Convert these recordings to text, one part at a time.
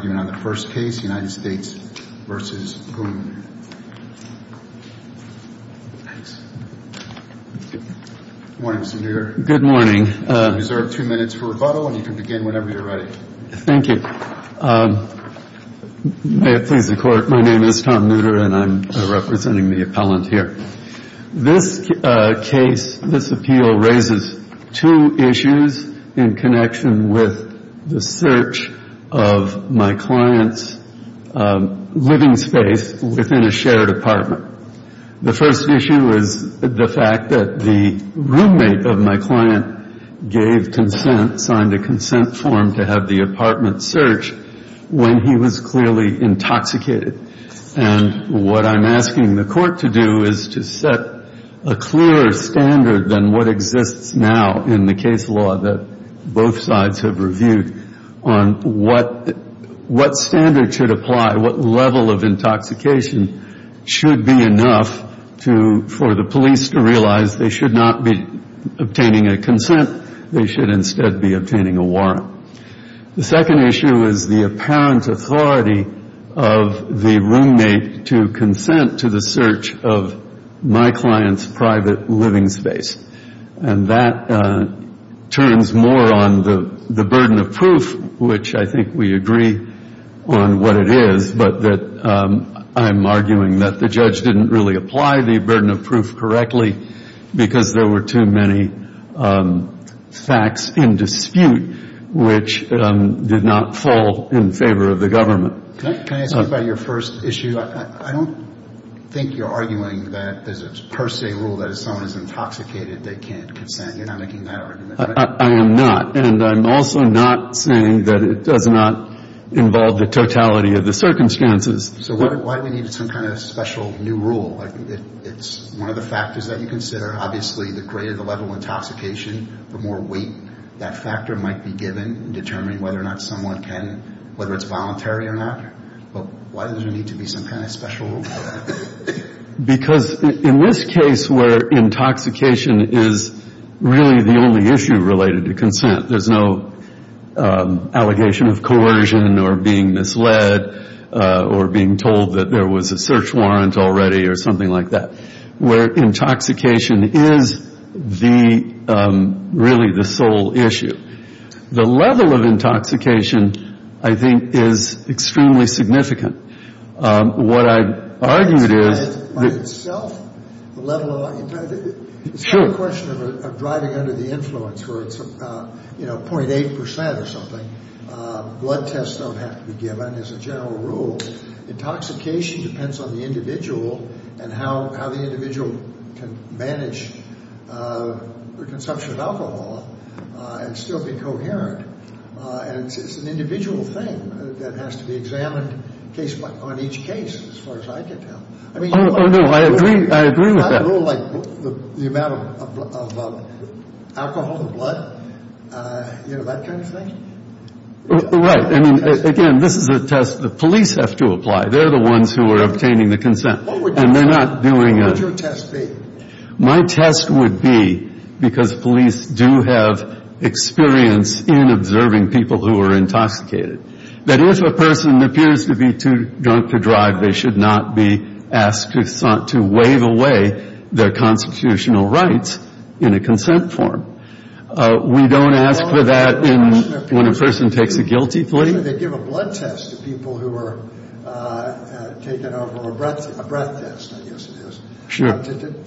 Thank you. May it please the Court, my name is Tom Nooter and I'm representing the appellant here. This case, this appeal raises two issues in connection with the search of my client's living space within a shared apartment. The first issue is the fact that the roommate of my client gave consent, signed a consent form to have the apartment searched when he was clearly intoxicated. And what I'm asking the Court to do is to set a clearer standard than what exists now in the case law that both sides have reviewed on what standard should apply, what level of intoxication should be enough for the police to realize they should not be obtaining a consent, they should instead be obtaining a warrant. The second issue is the apparent authority of the roommate to consent to the search of my client's private living space. And that turns more on the burden of proof, which I think we agree on what it is, but that I'm arguing that the judge didn't really apply the burden of proof correctly because there were too many facts in dispute which did not fall in favor of the government. Can I ask you about your first issue? I don't think you're arguing that there's a per se rule that if someone is intoxicated, they can't consent. You're not making that argument, right? I am not. And I'm also not saying that it does not involve the totality of the circumstances. So why do we need some kind of special new rule? It's one of the factors that you consider, obviously, the greater the level of intoxication, the more weight that factor might be given in determining whether or not someone can, whether it's voluntary or not. But why does there need to be some kind of special rule for that? Because in this case where intoxication is really the only issue related to consent, there's no allegation of coercion or being misled or being told that there was a search warrant already or something like that, where intoxication is the, really the sole issue. The level of intoxication, I think, is extremely significant. What I argued is... It's a question of driving under the influence where it's, you know, 0.8% or something. Blood tests don't have to be given as a general rule. Intoxication depends on the individual and how the individual can manage their consumption of alcohol and still be coherent. And it's an individual thing that has to be examined on each case, as far as I can tell. Oh, no, I agree. I agree with that. It's not a rule like the amount of alcohol, the blood, you know, that kind of thing? Right. I mean, again, this is a test that police have to apply. They're the ones who are obtaining the consent. What would your test be? My test would be, because police do have experience in observing people who are intoxicated, that if a person appears to be too drunk to drive, they should not be asked to wave away their constitutional rights in a consent form. We don't ask for that when a person takes a guilty plea. They give a blood test to people who are taken over, or a breath test, I guess it is,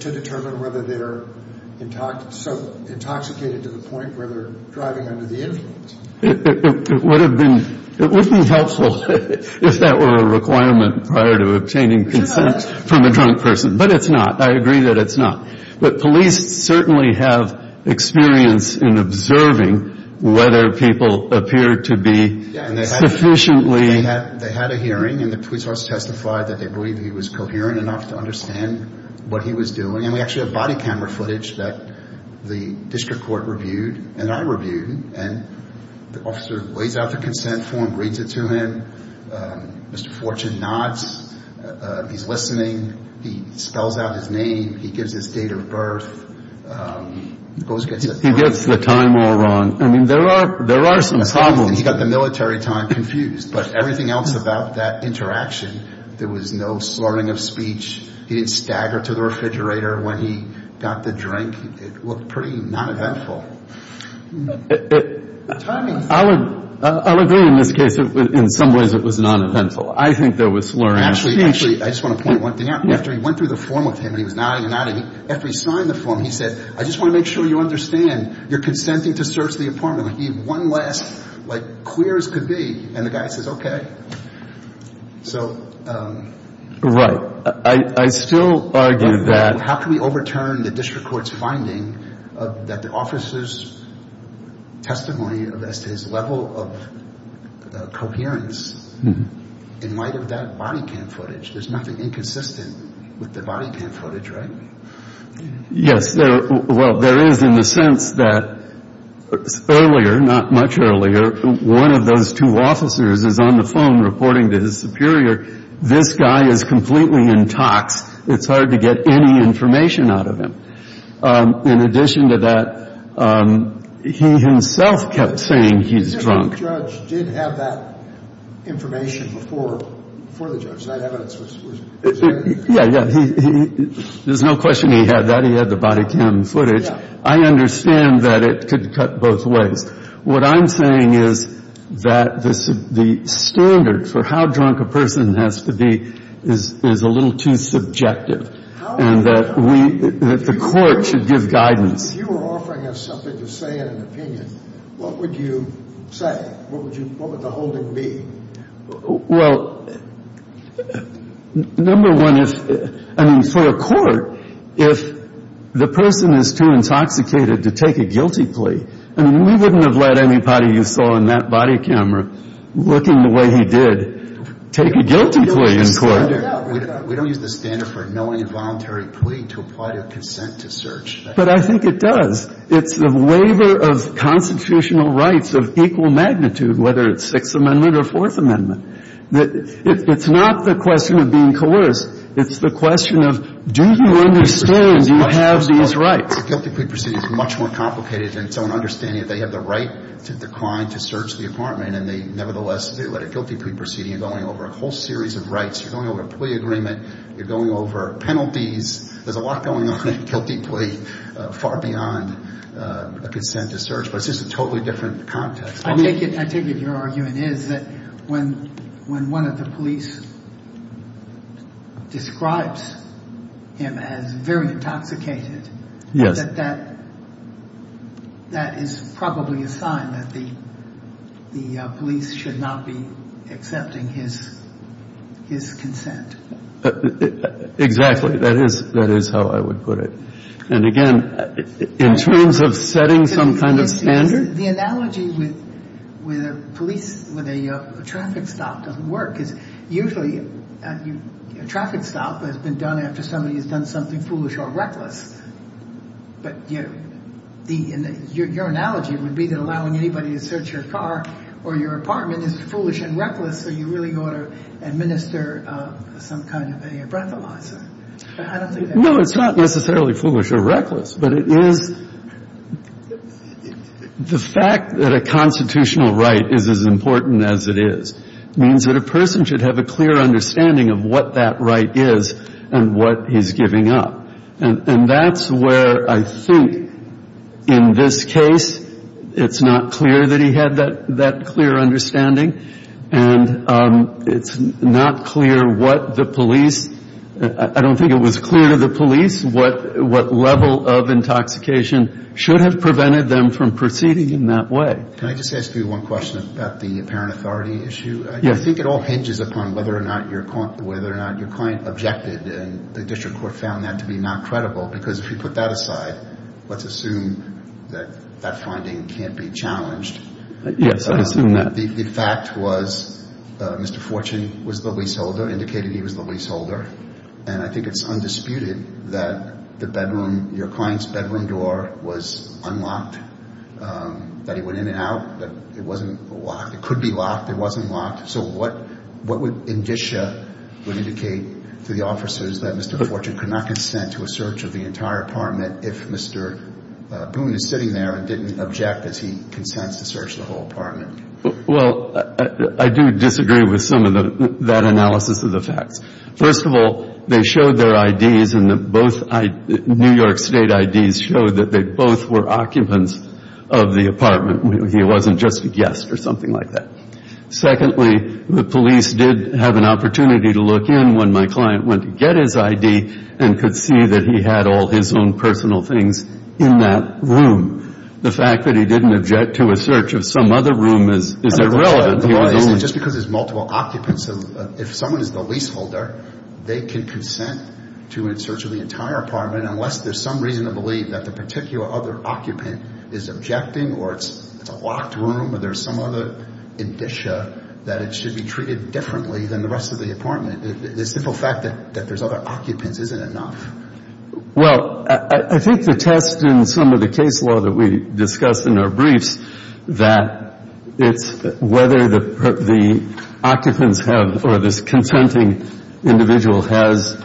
to determine whether they're intoxicated to the point where they're driving under the influence. It would be helpful if that were a requirement prior to obtaining consent from a drunk person. But it's not. I agree that it's not. But police certainly have experience in observing whether people appear to be sufficiently... They had a hearing, and the police also testified that they believed he was coherent enough to understand what he was doing. And we actually have body camera footage that the district court reviewed, and I reviewed, and the officer lays out the consent form, reads it to him. Mr. Fortune nods. He's listening. He spells out his name. He gives his date of birth. He gets the time all wrong. I mean, there are some problems. He got the military time confused. But everything else about that interaction, there was no slurring of speech. He didn't stagger to the refrigerator when he got the drink. It looked pretty non-eventful. I would agree in this case. In some ways, it was non-eventful. I think there was slurring of speech. Actually, I just want to point one thing out. After he went through the form with him and he was nodding and nodding, after he signed the form, he said, I just want to make sure you understand you're consenting to search the apartment. He had one last, like, clear as could be, and the guy says, okay. So... Right. I still argue that... How can we overturn the district court's finding that the officer's testimony of Estes' level of coherence in light of that body cam footage, there's nothing inconsistent with the body cam footage, right? Yes. Well, there is in the sense that earlier, not much earlier, one of those two officers is on the It's hard to get any information out of him. In addition to that, he himself kept saying he's drunk. The judge did have that information before the judge. That evidence was... Yeah, yeah. There's no question he had that. He had the body cam footage. Yeah. I understand that it could cut both ways. What I'm saying is that the standard for how drunk a person has to be is a little too subjective, and that the court should give guidance. If you were offering us something to say in an opinion, what would you say? What would the holding be? Well, number one is, I mean, for the court, if the person is too intoxicated to take a guilty plea, I mean, we wouldn't have let anybody you saw in that body cam or looking the way he did take a guilty plea in court. We don't use the standard for knowing a voluntary plea to apply to consent to search. But I think it does. It's the waiver of constitutional rights of equal magnitude, whether it's Sixth Amendment or Fourth Amendment. It's not the question of being coerced. It's the question of, do you understand, do you have these rights? A guilty plea proceeding is much more complicated than someone understanding that they have the right to decline to search the apartment, and they nevertheless let a guilty plea proceeding and going over a whole series of rights. You're going over a plea agreement. You're going over penalties. There's a lot going on in a guilty plea far beyond a consent to search, but it's just a totally different context. I take it your argument is that when one of the police describes him as very intoxicated, that that is probably a sign that the police should not be accepting his consent. Exactly. That is how I would put it. And again, in terms of setting some kind of standard. The analogy with a traffic stop doesn't work. Because usually a traffic stop has been done after somebody has done something foolish or reckless. But your analogy would be that allowing anybody to search your car or your apartment is foolish and reckless, so you really ought to administer some kind of a breathalyzer. No, it's not necessarily foolish or reckless, but it is the fact that a constitutional right is as important as it is, means that a person should have a clear understanding of what that right is and what he's giving up. And that's where I think in this case it's not clear that he had that clear understanding, and it's not clear what the police, I don't think it was clear to the police, what level of intoxication should have prevented them from proceeding in that way. Can I just ask you one question about the apparent authority issue? Yes. I think it all hinges upon whether or not your client objected, and the district court found that to be not credible, because if you put that aside, let's assume that that finding can't be challenged. Yes, I assume that. The fact was Mr. Fortune was the leaseholder, indicated he was the leaseholder, and I think it's undisputed that the bedroom, your client's bedroom door was unlocked, that he went in and out, that it wasn't locked. It could be locked. It wasn't locked. So what would indicia would indicate to the officers that Mr. Fortune could not consent to a search of the entire apartment if Mr. Boone is sitting there and didn't object as he consents to search the whole apartment? Well, I do disagree with some of that analysis of the facts. First of all, they showed their IDs, and both New York State IDs showed that they both were occupants of the apartment. He wasn't just a guest or something like that. Secondly, the police did have an opportunity to look in when my client went to get his ID and could see that he had all his own personal things in that room. The fact that he didn't object to a search of some other room is irrelevant. Is it just because there's multiple occupants? If someone is the leaseholder, they can consent to a search of the entire apartment unless there's some reason to believe that the particular other occupant is objecting or it's a locked room or there's some other indicia that it should be treated differently than the rest of the apartment. The simple fact that there's other occupants isn't enough. Well, I think the test in some of the case law that we discussed in our briefs that it's whether the occupants have or this consenting individual has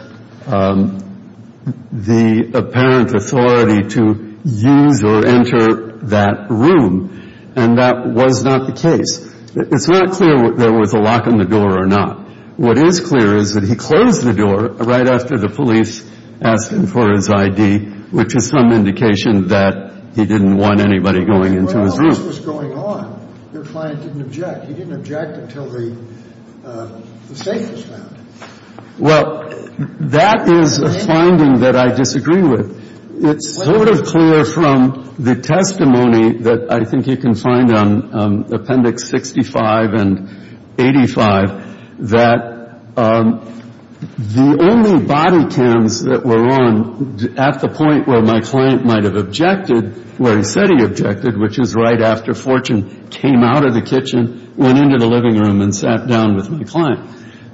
the apparent authority to use or enter that room, and that was not the case. It's not clear there was a lock on the door or not. What is clear is that he closed the door right after the police asked him for his ID, which is some indication that he didn't want anybody going into his room. Well, this was going on. Your client didn't object. He didn't object until the safe was found. Well, that is a finding that I disagree with. It's sort of clear from the testimony that I think you can find on Appendix 65 and 85 that the only body cams that were on at the point where my client might have objected, where he said he objected, which is right after Fortune came out of the kitchen, went into the living room and sat down with my client,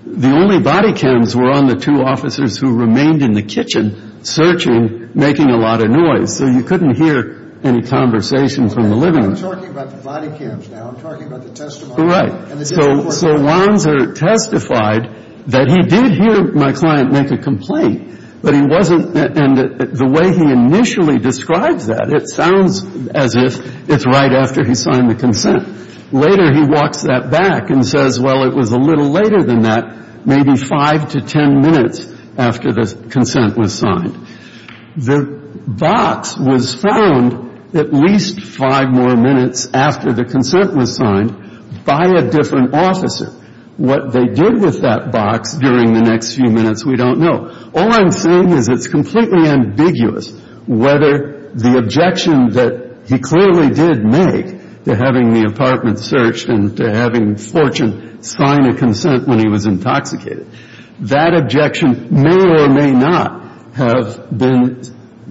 the only body cams were on the two officers who remained in the kitchen searching, making a lot of noise. So you couldn't hear any conversation from the living room. I'm talking about the body cams now. I'm talking about the testimony. So Lanzer testified that he did hear my client make a complaint, but he wasn't the way he initially describes that. It sounds as if it's right after he signed the consent. Later he walks that back and says, well, it was a little later than that, maybe five to ten minutes after the consent was signed. The box was found at least five more minutes after the consent was signed by a different officer. What they did with that box during the next few minutes, we don't know. All I'm saying is it's completely ambiguous whether the objection that he clearly did make to having the apartment searched and to having Fortune sign a consent when he was intoxicated, that objection may or may not have been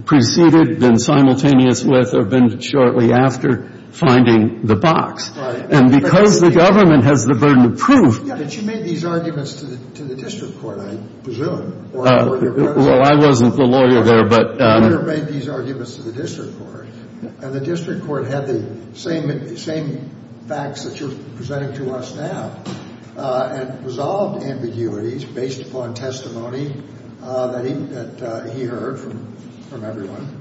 preceded, been simultaneous with, or been shortly after finding the box. And because the government has the burden of proof. But you made these arguments to the district court, I presume. Well, I wasn't the lawyer there. You made these arguments to the district court, and the district court had the same facts that you're presenting to us now and resolved ambiguities based upon testimony that he heard from everyone.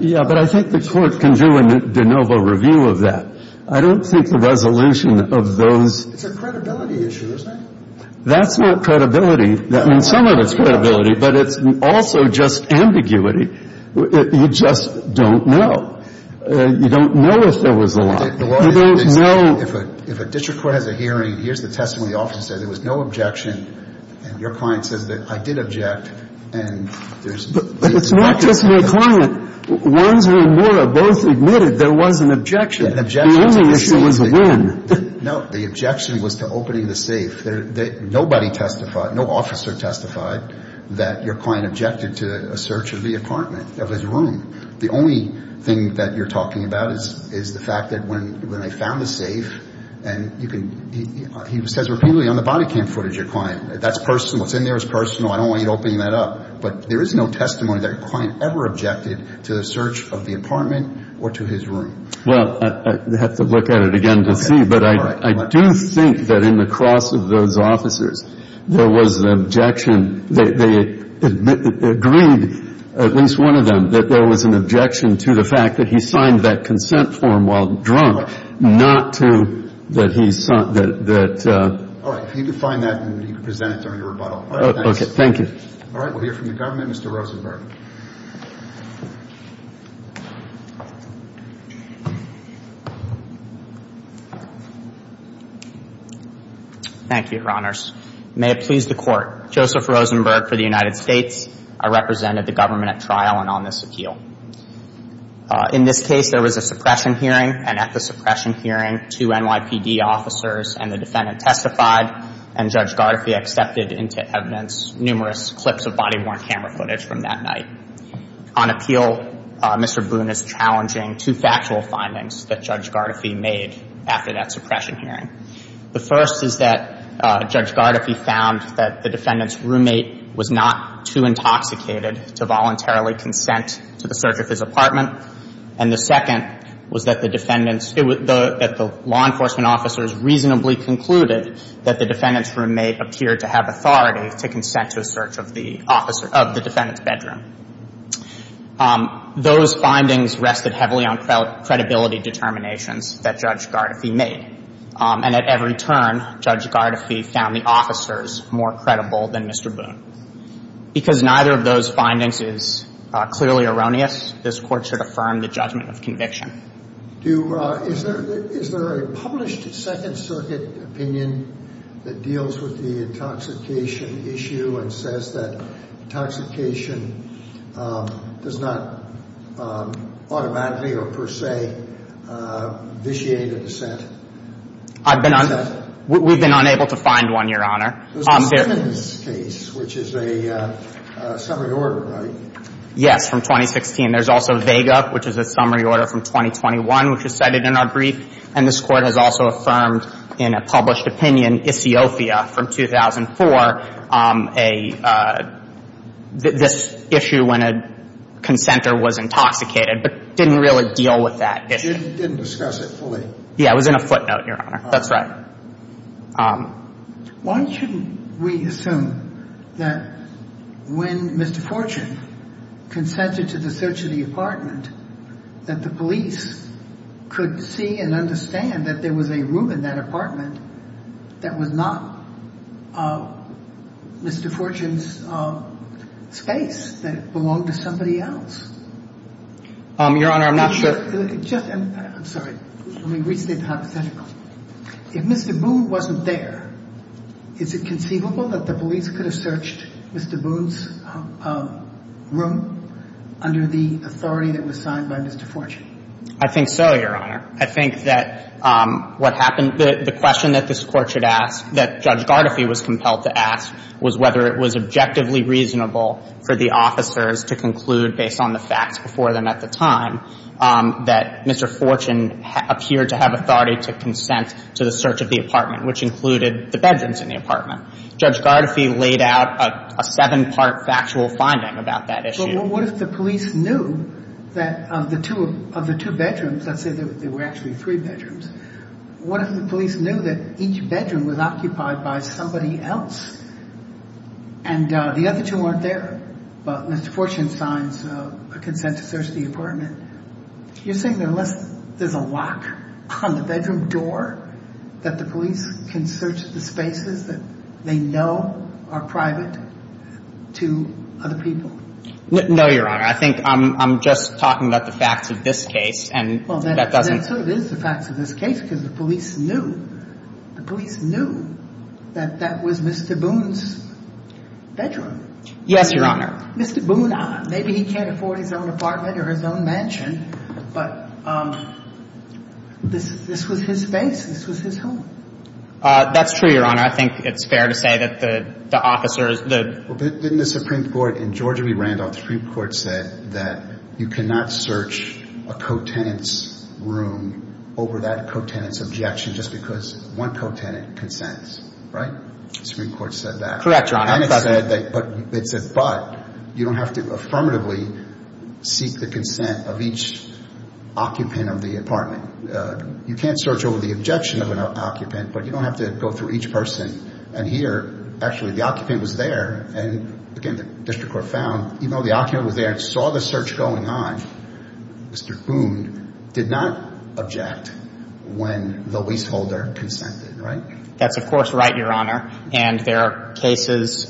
Yeah, but I think the court can do a de novo review of that. I don't think the resolution of those. It's a credibility issue, isn't it? That's not credibility. I mean, some of it's credibility, but it's also just ambiguity. You just don't know. You don't know if there was a lock. You don't know. If a district court has a hearing, here's the testimony. The officer says there was no objection. And your client says that I did object. But it's not just my client. Once we were both admitted, there was an objection. The only issue was a win. No. The objection was to opening the safe. Nobody testified, no officer testified, that your client objected to a search of the apartment, of his room. The only thing that you're talking about is the fact that when I found the safe and he says repeatedly on the body cam footage, your client, that's personal, what's in there is personal, I don't want you opening that up. But there is no testimony that your client ever objected to the search of the apartment or to his room. Well, I'd have to look at it again to see. But I do think that in the cross of those officers, there was an objection. They agreed, at least one of them, that there was an objection to the fact that he signed that consent form while drunk, not to that he sought that. All right. If you could find that and you could present it during the rebuttal. Okay, thank you. All right. We'll hear from the government. Mr. Rosenberg. Thank you, Your Honors. May it please the Court. Joseph Rosenberg for the United States. I represented the government at trial and on this appeal. In this case, there was a suppression hearing, and at the suppression hearing, two NYPD officers and the defendant testified, and Judge Gardefee accepted into evidence numerous clips of body-worn camera footage from that night. On appeal, Mr. Boone is challenging two factual findings that Judge Gardefee made after that suppression hearing. The first is that Judge Gardefee found that the defendant's roommate was not too intoxicated to voluntarily consent to the search of his apartment, and the second was that the law enforcement officers reasonably concluded that the defendant's roommate appeared to have authority to consent to a search of the defendant's bedroom. Those findings rested heavily on credibility determinations that Judge Gardefee made, and at every turn, Judge Gardefee found the officers more credible than Mr. Boone. Because neither of those findings is clearly erroneous, this Court should affirm the judgment of conviction. Is there a published Second Circuit opinion that deals with the intoxication issue and says that intoxication does not automatically or per se vitiate a dissent? We've been unable to find one, Your Honor. There's a sentence case, which is a summary order, right? Yes, from 2016. There's also vega, which is a summary order from 2021, which is cited in our brief, and this Court has also affirmed in a published opinion, from 2004, this issue when a consentor was intoxicated, but didn't really deal with that issue. Didn't discuss it fully. Yeah, it was in a footnote, Your Honor. That's right. Why shouldn't we assume that when Mr. Fortune consented to the search of the apartment, that the police could see and understand that there was a room in that apartment that was not Mr. Fortune's space, that it belonged to somebody else? Your Honor, I'm not sure. I'm sorry. Let me restate the hypothetical. If Mr. Boone wasn't there, is it conceivable that the police could have searched Mr. Boone's room under the authority that was signed by Mr. Fortune? I think so, Your Honor. I think that what happened, the question that this Court should ask, that Judge Gardefee was compelled to ask, was whether it was objectively reasonable for the officers to conclude, based on the facts before them at the time, that Mr. Fortune appeared to have authority to consent to the search of the apartment, which included the bedrooms in the apartment. Judge Gardefee laid out a seven-part factual finding about that issue. But what if the police knew that of the two bedrooms, let's say there were actually three bedrooms, what if the police knew that each bedroom was occupied by somebody else and the other two weren't there, but Mr. Fortune signs a consent to search the apartment? You're saying that unless there's a lock on the bedroom door, that the police can search the spaces that they know are private to other people? No, Your Honor. I think I'm just talking about the facts of this case and that doesn't... Well, that sort of is the facts of this case because the police knew. The police knew that that was Mr. Boone's bedroom. Yes, Your Honor. Mr. Boone, maybe he can't afford his own apartment or his own mansion, but this was his space, this was his home. That's true, Your Honor. I think it's fair to say that the officers, the... Well, didn't the Supreme Court in Georgia v. Randolph, the Supreme Court said that you cannot search a co-tenant's room over that co-tenant's objection just because one co-tenant consents, right? The Supreme Court said that. Correct, Your Honor. But you don't have to affirmatively seek the consent of each occupant of the apartment. You can't search over the objection of an occupant, but you don't have to go through each person and hear actually the occupant was there and, again, the district court found even though the occupant was there and saw the search going on, Mr. Boone did not object when the leaseholder consented, right? That's, of course, right, Your Honor. And there are cases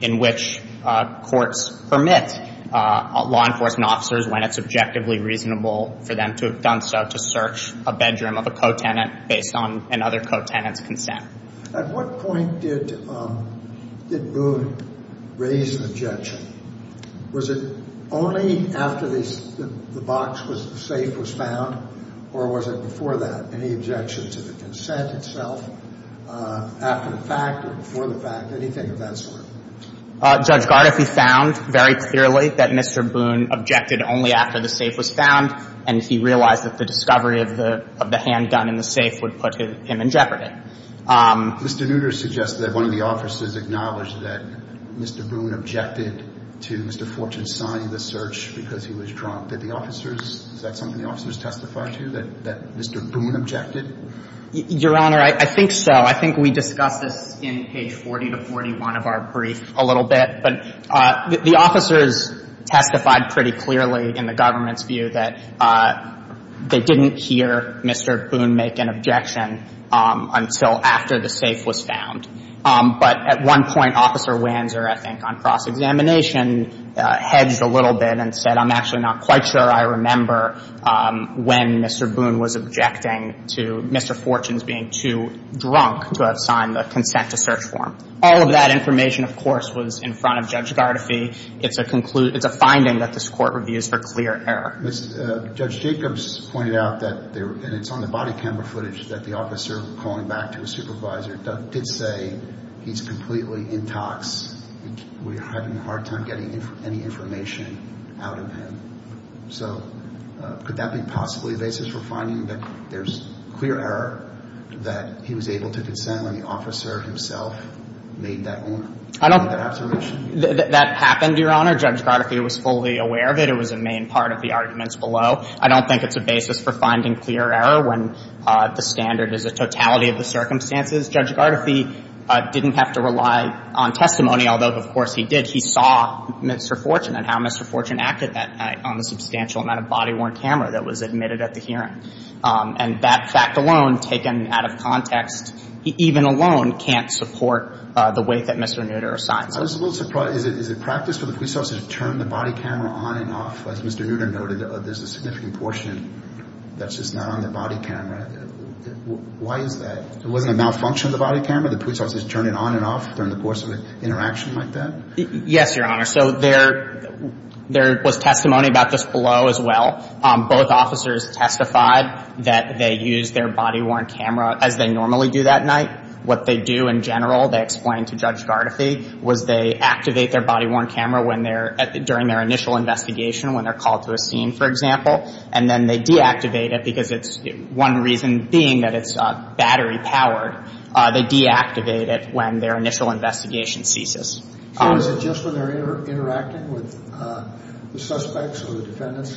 in which courts permit law enforcement officers, when it's objectively reasonable for them to have done so, to search a bedroom of a co-tenant based on another co-tenant's consent. At what point did Boone raise the objection? Was it only after the box, the safe was found, or was it before that? Any objection to the consent itself? After the fact or before the fact? Anything of that sort? Judge Gardefy found very clearly that Mr. Boone objected only after the safe was found, and he realized that the discovery of the handgun in the safe would put him in jeopardy. Mr. Nutter suggested that one of the officers acknowledged that Mr. Boone objected to Mr. Fortune signing the search because he was drunk. Did the officers – is that something the officers testified to, that Mr. Boone objected? Your Honor, I think so. I think we discussed this in page 40 to 41 of our brief a little bit. But the officers testified pretty clearly in the government's view that they didn't hear Mr. Boone make an objection until after the safe was found. But at one point, Officer Wanzer, I think on cross-examination, hedged a little bit and said, I'm actually not quite sure I remember when Mr. Boone was objecting to Mr. Fortune's being too drunk to have signed the consent-to-search form. All of that information, of course, was in front of Judge Gardefy. It's a finding that this Court reviews for clear error. Judge Jacobs pointed out that – and it's on the body camera footage that the officer, calling back to his supervisor, did say, he's completely intox. We're having a hard time getting any information out of him. So could that be possibly a basis for finding that there's clear error that he was able to consent when the officer himself made that observation? I don't – that happened, Your Honor. Judge Gardefy was fully aware of it. It was a main part of the arguments below. I don't think it's a basis for finding clear error when the standard is a totality of the circumstances. Judge Gardefy didn't have to rely on testimony, although, of course, he did. He saw Mr. Fortune and how Mr. Fortune acted that night on the substantial amount of body-worn camera that was admitted at the hearing. And that fact alone, taken out of context, even alone can't support the weight that Mr. Nutter assigned. I was a little surprised. Is it practice for the police officer to turn the body camera on and off? As Mr. Nutter noted, there's a significant portion that's just not on the body camera. Why is that? Wasn't a malfunction of the body camera? The police officer's turning it on and off during the course of an interaction like that? Yes, Your Honor. So there was testimony about this below as well. Both officers testified that they used their body-worn camera as they normally do that night. What they do in general, they explained to Judge Gardefy, was they activate their body-worn camera when they're – during their initial investigation, when they're called to a scene, for example, and then they deactivate it because it's – one reason being that it's battery-powered. They deactivate it when their initial investigation ceases. So is it just when they're interacting with the suspects or the defendants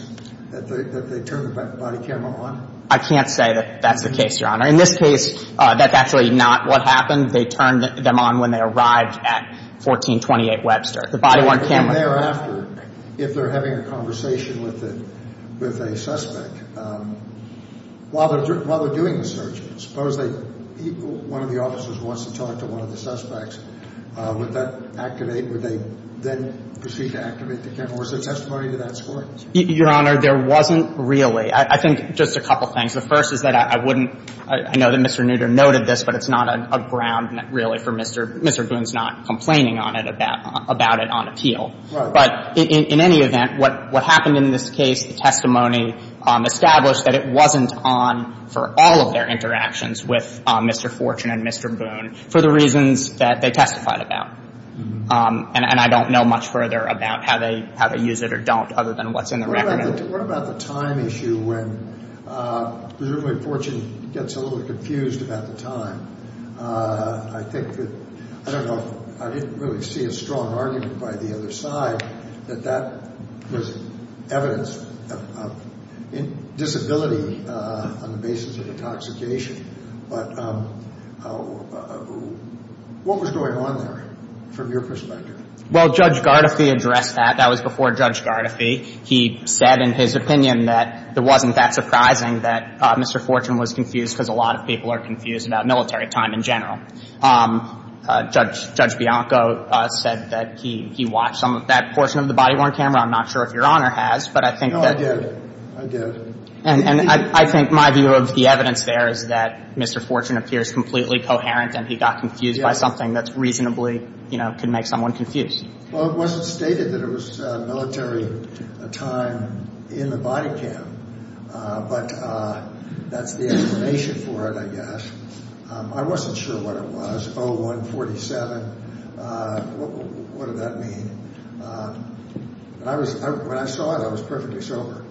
that they turn the body camera on? I can't say that that's the case, Your Honor. In this case, that's actually not what happened. They turned them on when they arrived at 1428 Webster. The body-worn camera – If they're having a conversation with a suspect while they're doing the search, suppose they – one of the officers wants to talk to one of the suspects. Would that activate – would they then proceed to activate the camera? Was there testimony to that score? Your Honor, there wasn't really. I think just a couple things. The first is that I wouldn't – I know that Mr. Nooter noted this, but it's not a ground, really, for Mr. Boone's not complaining on it about it on appeal. Right. But in any event, what happened in this case, the testimony established that it wasn't on for all of their interactions with Mr. Fortune and Mr. Boone for the reasons that they testified about. And I don't know much further about how they use it or don't other than what's in the record. What about the time issue when presumably Fortune gets a little confused about the time? I think that – I don't know. I didn't really see a strong argument by the other side that that was evidence of disability on the basis of intoxication. But what was going on there from your perspective? Well, Judge Gardefee addressed that. That was before Judge Gardefee. He said in his opinion that it wasn't that surprising that Mr. Fortune was confused because a lot of people are confused about military time in general. Judge Bianco said that he watched some of that portion of the body-worn camera. I'm not sure if Your Honor has, but I think that – No, I did. I did. And I think my view of the evidence there is that Mr. Fortune appears completely coherent and he got confused by something that reasonably, you know, could make someone confused. Well, it wasn't stated that it was military time in the body cam, but that's the information for it, I guess. I wasn't sure what it was, 0147. What did that mean? When I saw it, I was perfectly sober.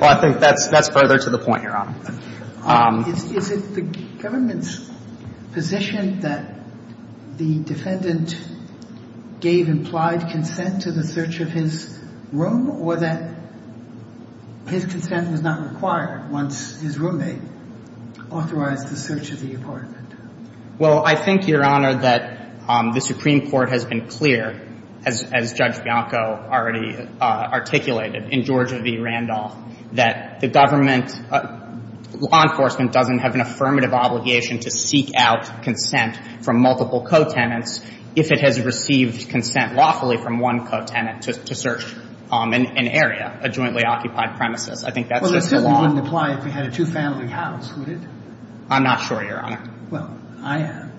Well, I think that's further to the point, Your Honor. Is it the government's position that the defendant gave implied consent to the search of his room or that his consent was not required once his roommate authorized the search of the apartment? Well, I think, Your Honor, that the Supreme Court has been clear, as Judge Bianco already articulated in Georgia v. Randolph, that the government – law enforcement doesn't have an affirmative obligation to seek out consent from multiple co-tenants if it has received consent lawfully from one co-tenant to search an area, a jointly occupied premises. I think that's just the law. Well, that certainly wouldn't apply if you had a two-family house, would it? I'm not sure, Your Honor. Well, I am.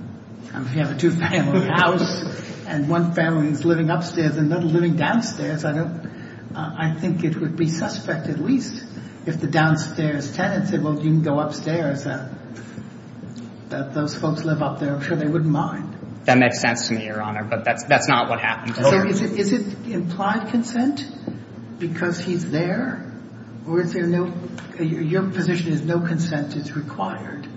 If you have a two-family house and one family is living upstairs and another living downstairs, I don't – I think it would be suspect at least if the downstairs tenant said, well, you can go upstairs, that those folks live up there. I'm sure they wouldn't mind. That makes sense to me, Your Honor, but that's not what happened. So is it implied consent because he's there or is there no – your position is no consent is required?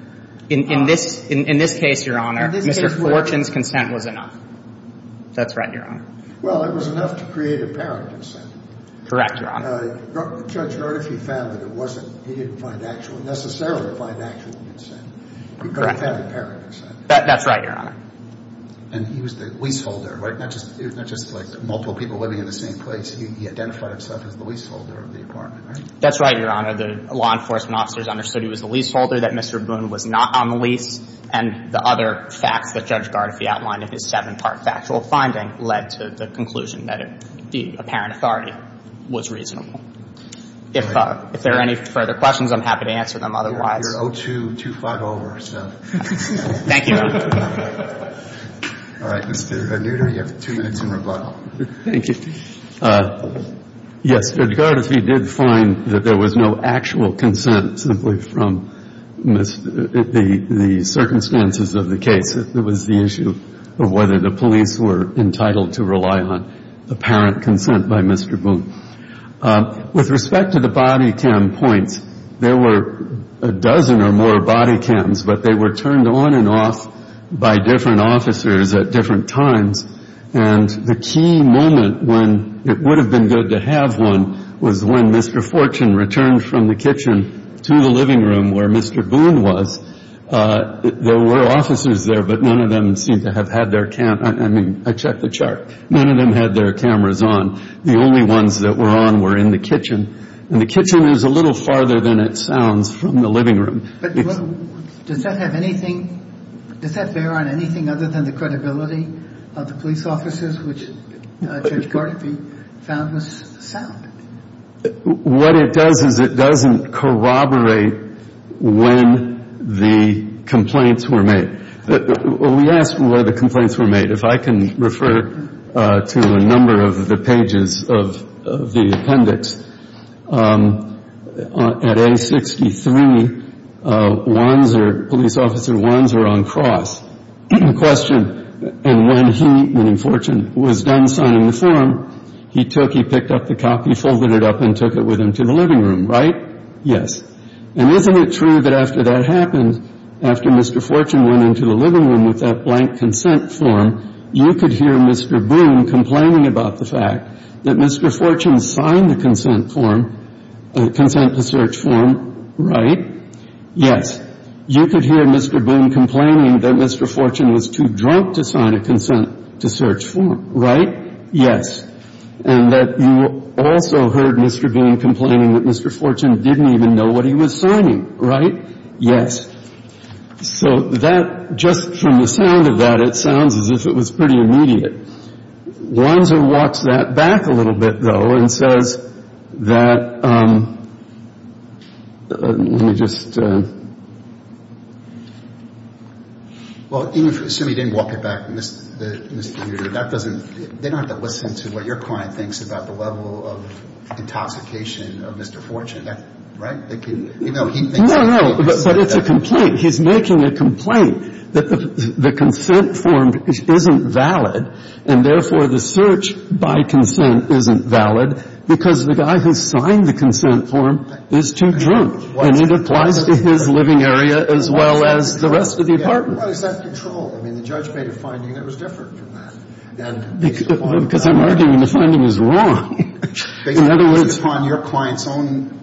In this – in this case, Your Honor, Mr. Fortune's consent was enough. That's right, Your Honor. Well, it was enough to create apparent consent. Correct, Your Honor. Judge Hardiff, he found that it wasn't – he didn't find actual – necessarily find actual consent. Correct. He could have had apparent consent. That's right, Your Honor. And he was the leaseholder, right? Not just – it was not just like multiple people living in the same place. He identified himself as the leaseholder of the apartment, right? That's right, Your Honor. The law enforcement officers understood he was the leaseholder, that Mr. Boone was not on the lease, and the other facts that Judge Gardefee outlined in his seven-part factual finding led to the conclusion that the apparent authority was reasonable. If there are any further questions, I'm happy to answer them otherwise. You're 0-2, 2-5 over, so. Thank you, Your Honor. All right. Mr. Nutter, you have two minutes in rebuttal. Thank you. Yes, Judge Gardefee did find that there was no actual consent, simply from the circumstances of the case. It was the issue of whether the police were entitled to rely on apparent consent by Mr. Boone. With respect to the body cam points, there were a dozen or more body cams, but they were turned on and off by different officers at different times. And the key moment when it would have been good to have one was when Mr. Fortune returned from the kitchen to the living room where Mr. Boone was. There were officers there, but none of them seemed to have had their cameras on. I mean, I checked the chart. None of them had their cameras on. The only ones that were on were in the kitchen, and the kitchen is a little farther than it sounds from the living room. But does that have anything? Does that bear on anything other than the credibility of the police officers, which Judge Gardefee found was sound? What it does is it doesn't corroborate when the complaints were made. We asked where the complaints were made. If I can refer to a number of the pages of the appendix, at A63, Wandsor, Police Officer Wandsor on cross, questioned, and when he, meaning Fortune, was done signing the form, he took, he picked up the copy, folded it up, and took it with him to the living room, right? Yes. And isn't it true that after that happened, after Mr. Fortune went into the living room with that blank consent form, you could hear Mr. Boone complaining about the fact that Mr. Fortune signed the consent form, consent to search form, right? Yes. You could hear Mr. Boone complaining that Mr. Fortune was too drunk to sign a consent to search form, right? Yes. And that you also heard Mr. Boone complaining that Mr. Fortune didn't even know what he was signing, right? Yes. So that, just from the sound of that, it sounds as if it was pretty immediate. Wandsor walks that back a little bit, though, and says that, let me just. Well, even if you assume he didn't walk it back, Mr. Mewder, that doesn't, they don't have to listen to what your client thinks about the level of intoxication of Mr. Fortune, right? No, no. But it's a complaint. He's making a complaint that the consent form isn't valid, and therefore the search by consent isn't valid because the guy who signed the consent form is too drunk. And it applies to his living area as well as the rest of the apartment. What is that control? I mean, the judge made a finding that was different from that. Because I'm arguing the finding is wrong. In other words. Based upon your client's own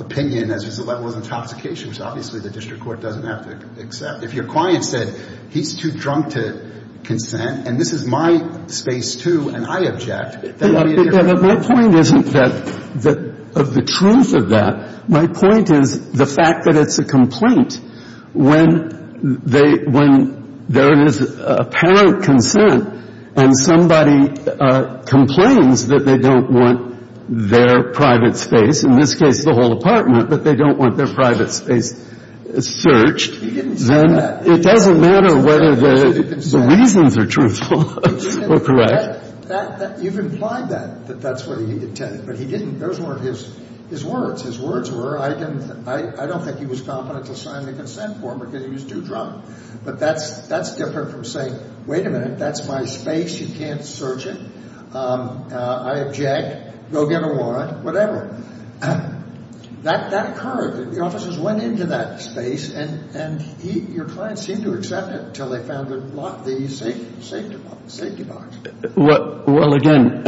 opinion as to the level of intoxication, which obviously the district court doesn't have to accept. If your client said he's too drunk to consent, and this is my space too, and I object, that would be a different argument. My point isn't that, of the truth of that. My point is the fact that it's a complaint. When there is apparent consent and somebody complains that they don't want their private space, in this case the whole apartment, but they don't want their private space searched. He didn't say that. It doesn't matter whether the reasons are truthful or correct. You've implied that, that that's what he intended. But he didn't. Those weren't his words. I don't think he was confident to sign the consent form because he was too drunk. But that's different from saying, wait a minute, that's my space. You can't search it. I object. Go get a warrant. Whatever. That occurred. The officers went into that space, and your client seemed to accept it until they found the safety box. Well, again,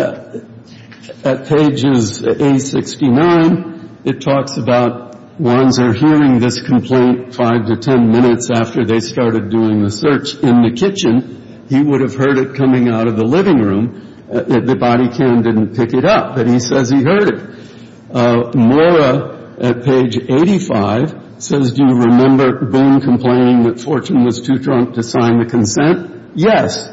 at pages 869, it talks about Wanzer hearing this complaint five to ten minutes after they started doing the search in the kitchen. He would have heard it coming out of the living room. The body cam didn't pick it up, but he says he heard it. Mora at page 85 says, do you remember Boone complaining that Fortune was too drunk to sign the consent? Yes.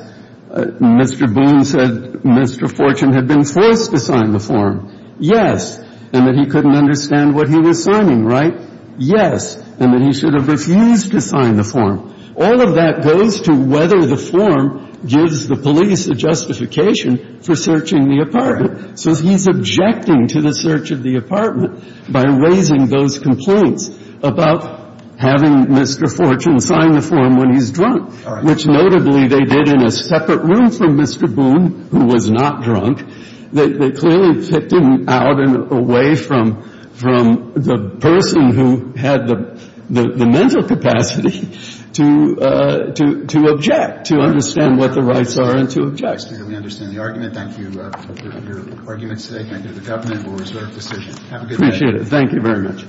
Mr. Boone said Mr. Fortune had been forced to sign the form. Yes. And that he couldn't understand what he was signing, right? Yes. And that he should have refused to sign the form. All of that goes to whether the form gives the police a justification for searching the apartment. So he's objecting to the search of the apartment by raising those complaints about having Mr. Fortune sign the form when he's drunk, which notably they did in a separate room from Mr. Boone, who was not drunk. They clearly picked him out and away from the person who had the mental capacity to object, to understand what the rights are and to object. We understand the argument. Thank you for your arguments today. Thank you to the government. We'll reserve the decision. Have a good day. Appreciate it. Thank you very much.